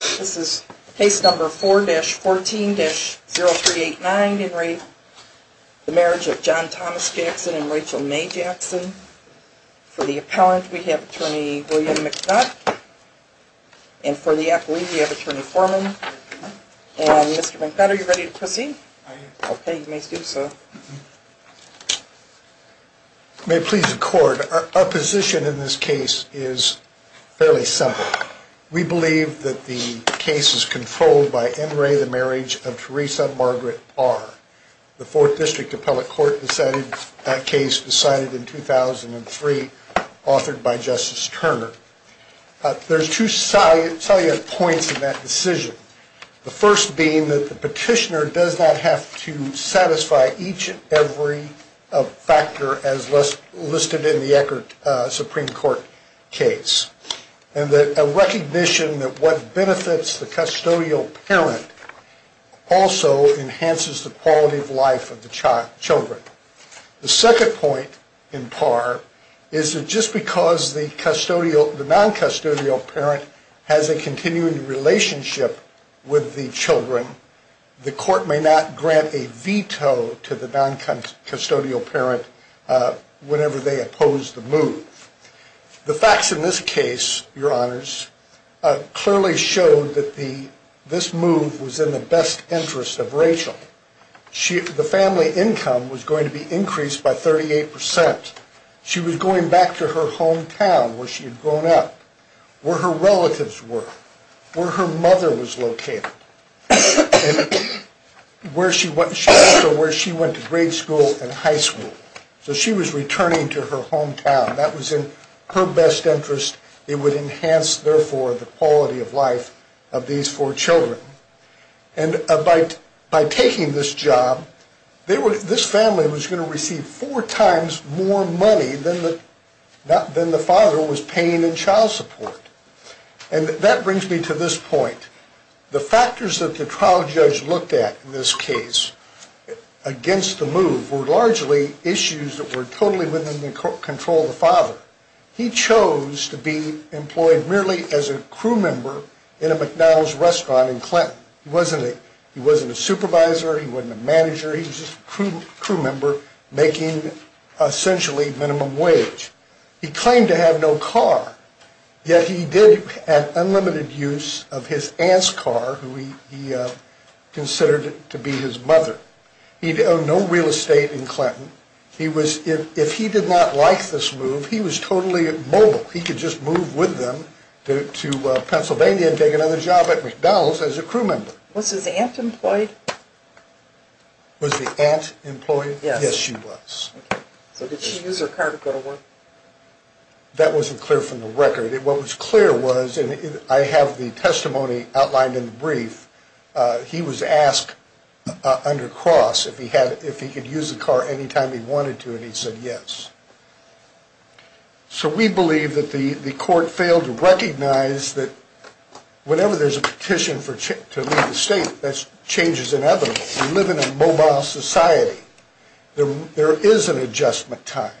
This is case number 4-14-0389 Henry, the marriage of John Thomas Jackson and Rachel May Jackson. For the appellant we have attorney William McNutt. And for the appellate we have attorney Foreman. And Mr. McNutt are you ready to proceed? I am. Okay, you may do so. May it please the court, our position in this case is fairly simple. We believe that the case is controlled by N. Ray, the marriage of Teresa Margaret Barr. The fourth district appellate court decided that case in 2003, authored by Justice Turner. There are two salient points in that decision. The first being that the petitioner does not have to satisfy each and every factor as listed in the Eckert Supreme Court case. And a recognition that what benefits the custodial parent also enhances the quality of life of the children. The second point in part is that just because the non-custodial parent has a continuing relationship with the children, the court may not grant a veto to the non-custodial parent whenever they oppose the move. The facts in this case, your honors, clearly showed that this move was in the best interest of Rachel. The family income was going to be increased by 38%. She was going back to her hometown where she had grown up, where her relatives were, where her mother was located. And also where she went to grade school and high school. So she was returning to her hometown. That was in her best interest. It would enhance, therefore, the quality of life of these four children. And by taking this job, this family was going to receive four times more money than the father was paying in child support. And that brings me to this point. The factors that the trial judge looked at in this case against the move were largely issues that were totally within the control of the father. He chose to be employed merely as a crew member in a McDonald's restaurant in Clinton. He wasn't a supervisor. He wasn't a manager. He was just a crew member making essentially minimum wage. He claimed to have no car, yet he did have unlimited use of his aunt's car, who he considered to be his mother. He owned no real estate in Clinton. If he did not like this move, he was totally mobile. He could just move with them to Pennsylvania and take another job at McDonald's as a crew member. Was his aunt employed? Was the aunt employed? Yes. Yes, she was. So did she use her car to go to work? That wasn't clear from the record. What was clear was, and I have the testimony outlined in the brief, he was asked under Cross if he could use the car anytime he wanted to, and he said yes. So we believe that the court failed to recognize that whenever there's a petition to leave the state, that change is inevitable. We live in a mobile society. There is an adjustment time,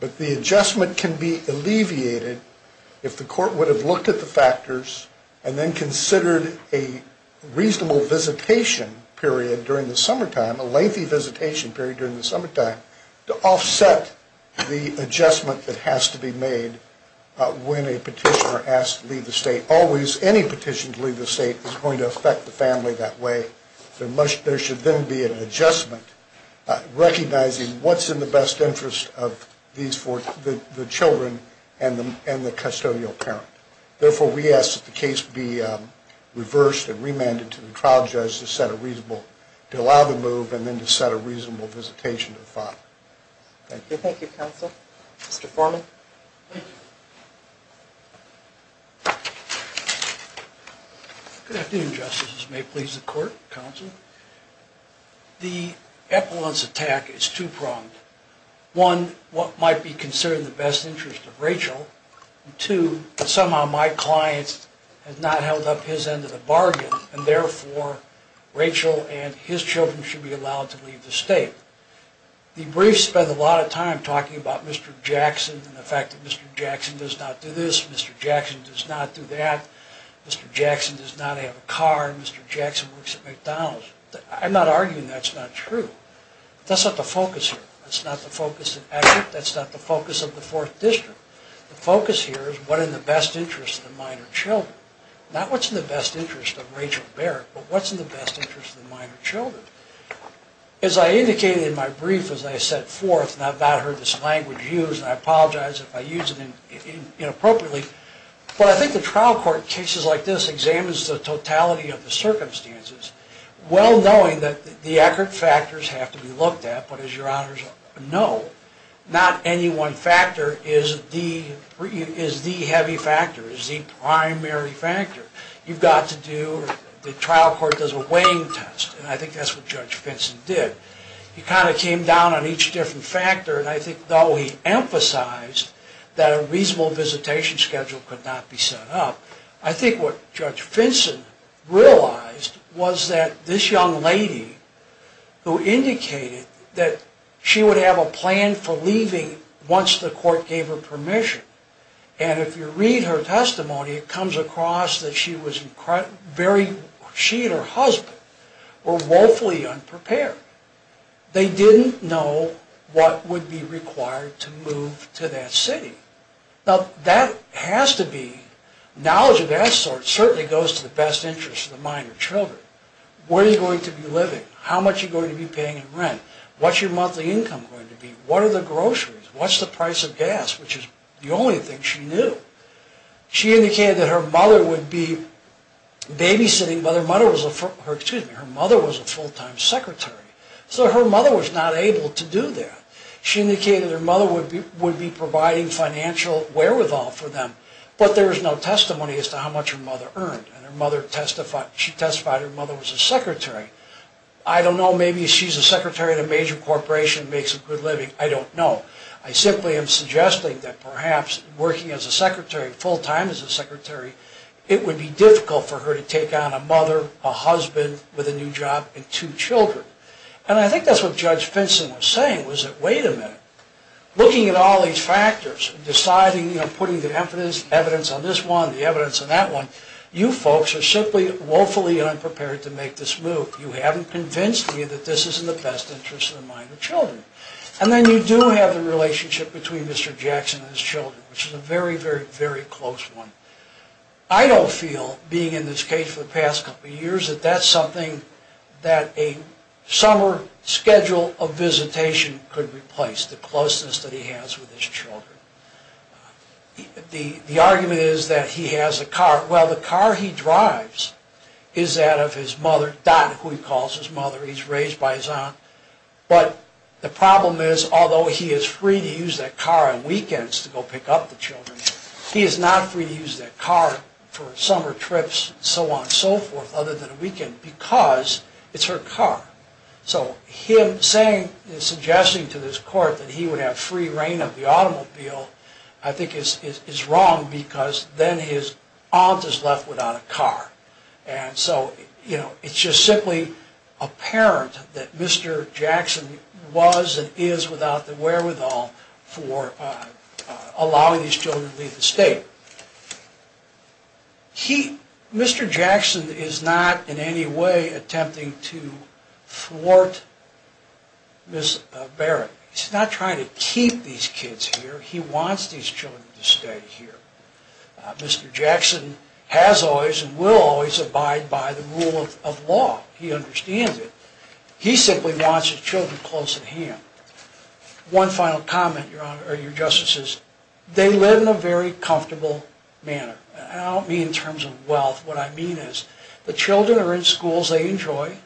but the adjustment can be alleviated if the court would have looked at the factors and then considered a reasonable visitation period during the summertime, a lengthy visitation period during the summertime, to offset the adjustment that has to be made when a petitioner has to leave the state. Always, any petition to leave the state is going to affect the family that way. There should then be an adjustment recognizing what's in the best interest of the children and the custodial parent. Therefore, we ask that the case be reversed and remanded to the trial judge to set a reasonable, to allow the move and then to set a reasonable visitation to the father. Thank you. Thank you, counsel. Mr. Foreman. Thank you. Good afternoon, justices. May it please the court, counsel. The Epelon's attack is two-pronged. One, what might be considered the best interest of Rachel, and two, somehow my client has not held up his end of the bargain, and therefore Rachel and his children should be allowed to leave the state. The brief spent a lot of time talking about Mr. Jackson and the fact that Mr. Jackson does not do this, Mr. Jackson does not do that, Mr. Jackson does not have a car, Mr. Jackson works at McDonald's. I'm not arguing that's not true. That's not the focus here. That's not the focus of the fourth district. The focus here is what is in the best interest of the minor children. Not what's in the best interest of Rachel Barrett, but what's in the best interest of the minor children. As I indicated in my brief, as I set forth, and I've not heard this language used, and I apologize if I use it inappropriately, but I think the trial court in cases like this examines the totality of the circumstances, well knowing that the accurate factors have to be looked at, but as your honors know, not any one factor is the heavy factor, is the primary factor. You've got to do, the trial court does a weighing test, and I think that's what Judge Finson did. He kind of came down on each different factor, and I think though he emphasized that a reasonable visitation schedule could not be set up, I think what Judge Finson realized was that this young lady who indicated that she would have a plan for leaving once the court gave her permission, and if you read her testimony, it comes across that she and her husband were woefully unprepared. They didn't know what would be required to move to that city. Now that has to be, knowledge of that sort certainly goes to the best interest of the minor children. Where are you going to be living? How much are you going to be paying in rent? What's your monthly income going to be? What are the groceries? What's the price of gas, which is the only thing she knew? She indicated that her mother would be babysitting, but her mother was a full-time secretary, so her mother was not able to do that. She indicated her mother would be providing financial wherewithal for them, but there is no testimony as to how much her mother earned, and she testified her mother was a secretary. I don't know, maybe she's a secretary at a major corporation, makes a good living, I don't know. I simply am suggesting that perhaps working as a secretary, full-time as a secretary, it would be difficult for her to take on a mother, a husband with a new job, and two children. And I think that's what Judge Finson was saying, was that wait a minute, looking at all these factors, deciding, you know, putting the evidence on this one, the evidence on that one, you folks are simply woefully unprepared to make this move. You haven't convinced me that this is in the best interest of the minor children. And then you do have the relationship between Mr. Jackson and his children, which is a very, very, very close one. I don't feel, being in this case for the past couple of years, that that's something that a summer schedule of visitation could replace, the closeness that he has with his children. The argument is that he has a car. Well, the car he drives is that of his mother, Dot, who he calls his mother. He's raised by his aunt. But the problem is, although he is free to use that car on weekends to go pick up the children, he is not free to use that car for summer trips and so on and so forth, other than a weekend, because it's her car. So him saying, suggesting to this court that he would have free reign of the automobile, I think is wrong, because then his aunt is left without a car. And so it's just simply apparent that Mr. Jackson was and is without the wherewithal for allowing these children to leave the state. Mr. Jackson is not in any way attempting to thwart Miss Barrett. He's not trying to keep these kids here. He wants these children to stay here. Mr. Jackson has always and will always abide by the rule of law. He understands it. He simply wants his children close at hand. One final comment, Your Honor, or Your Justice, is they live in a very comfortable manner. And I don't mean in terms of wealth. What I mean is the children are in schools they enjoy.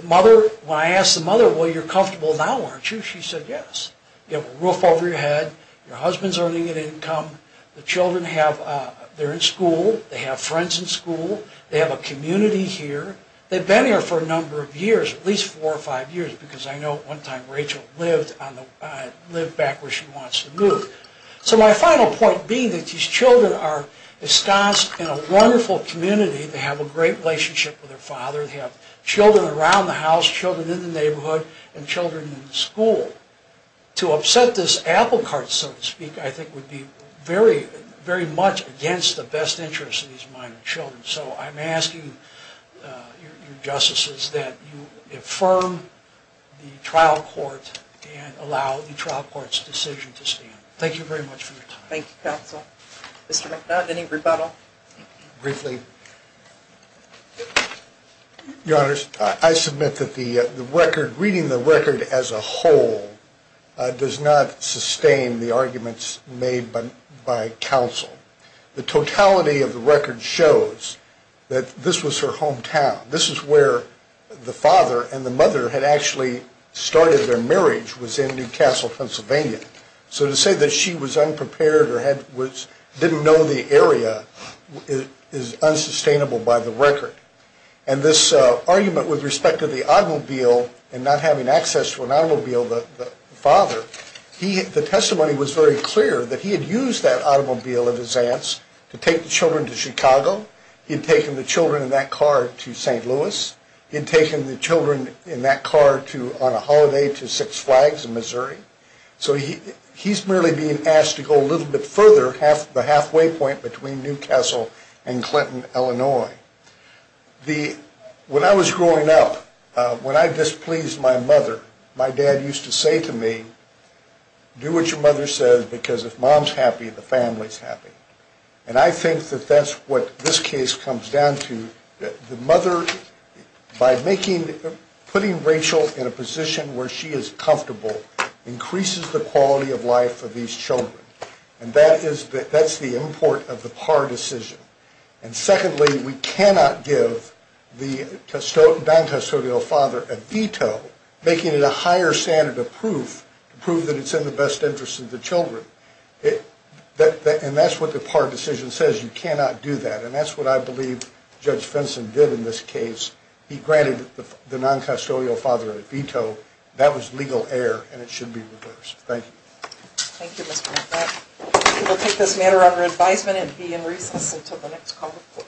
When I asked the mother, well, you're comfortable now, aren't you? She said, yes. You have a roof over your head. Your husband's earning an income. The children, they're in school. They have friends in school. They have a community here. They've been here for a number of years, at least four or five years, because I know one time Rachel lived back where she wants to move. So my final point being that these children are ensconced in a wonderful community. They have a great relationship with their father. They have children around the house, children in the neighborhood, and children in the school. To upset this apple cart, so to speak, I think would be very, very much against the best interests of these minor children. So I'm asking, Your Justices, that you affirm the trial court and allow the trial court's decision to stand. Thank you very much for your time. Thank you, counsel. Mr. McDonald, any rebuttal? Briefly. Your Honors, I submit that the record, reading the record as a whole, does not sustain the arguments made by counsel. The totality of the record shows that this was her hometown. This is where the father and the mother had actually started their marriage, was in New Castle, Pennsylvania. So to say that she was unprepared or didn't know the area is unsustainable by the record. And this argument with respect to the automobile and not having access to an automobile, the father, the testimony was very clear that he had used that automobile of his aunt's to take the children to Chicago. He had taken the children in that car to St. Louis. He had taken the children in that car on a holiday to Six Flags in Missouri. So he's merely being asked to go a little bit further, the halfway point between New Castle and Clinton, Illinois. When I was growing up, when I displeased my mother, my dad used to say to me, do what your mother says because if mom's happy, the family's happy. And I think that that's what this case comes down to. The mother, by putting Rachel in a position where she is comfortable increases the quality of life for these children. And that's the import of the Parr decision. And secondly, we cannot give the non-custodial father a veto, making it a higher standard of proof to prove that it's in the best interest of the children. And that's what the Parr decision says. You cannot do that. And that's what I believe Judge Fenson did in this case. He granted the non-custodial father a veto. That was legal error, and it should be reversed. Thank you. Thank you, Mr. Hoffman. We will take this matter under advisement and be in recess until the next call to court.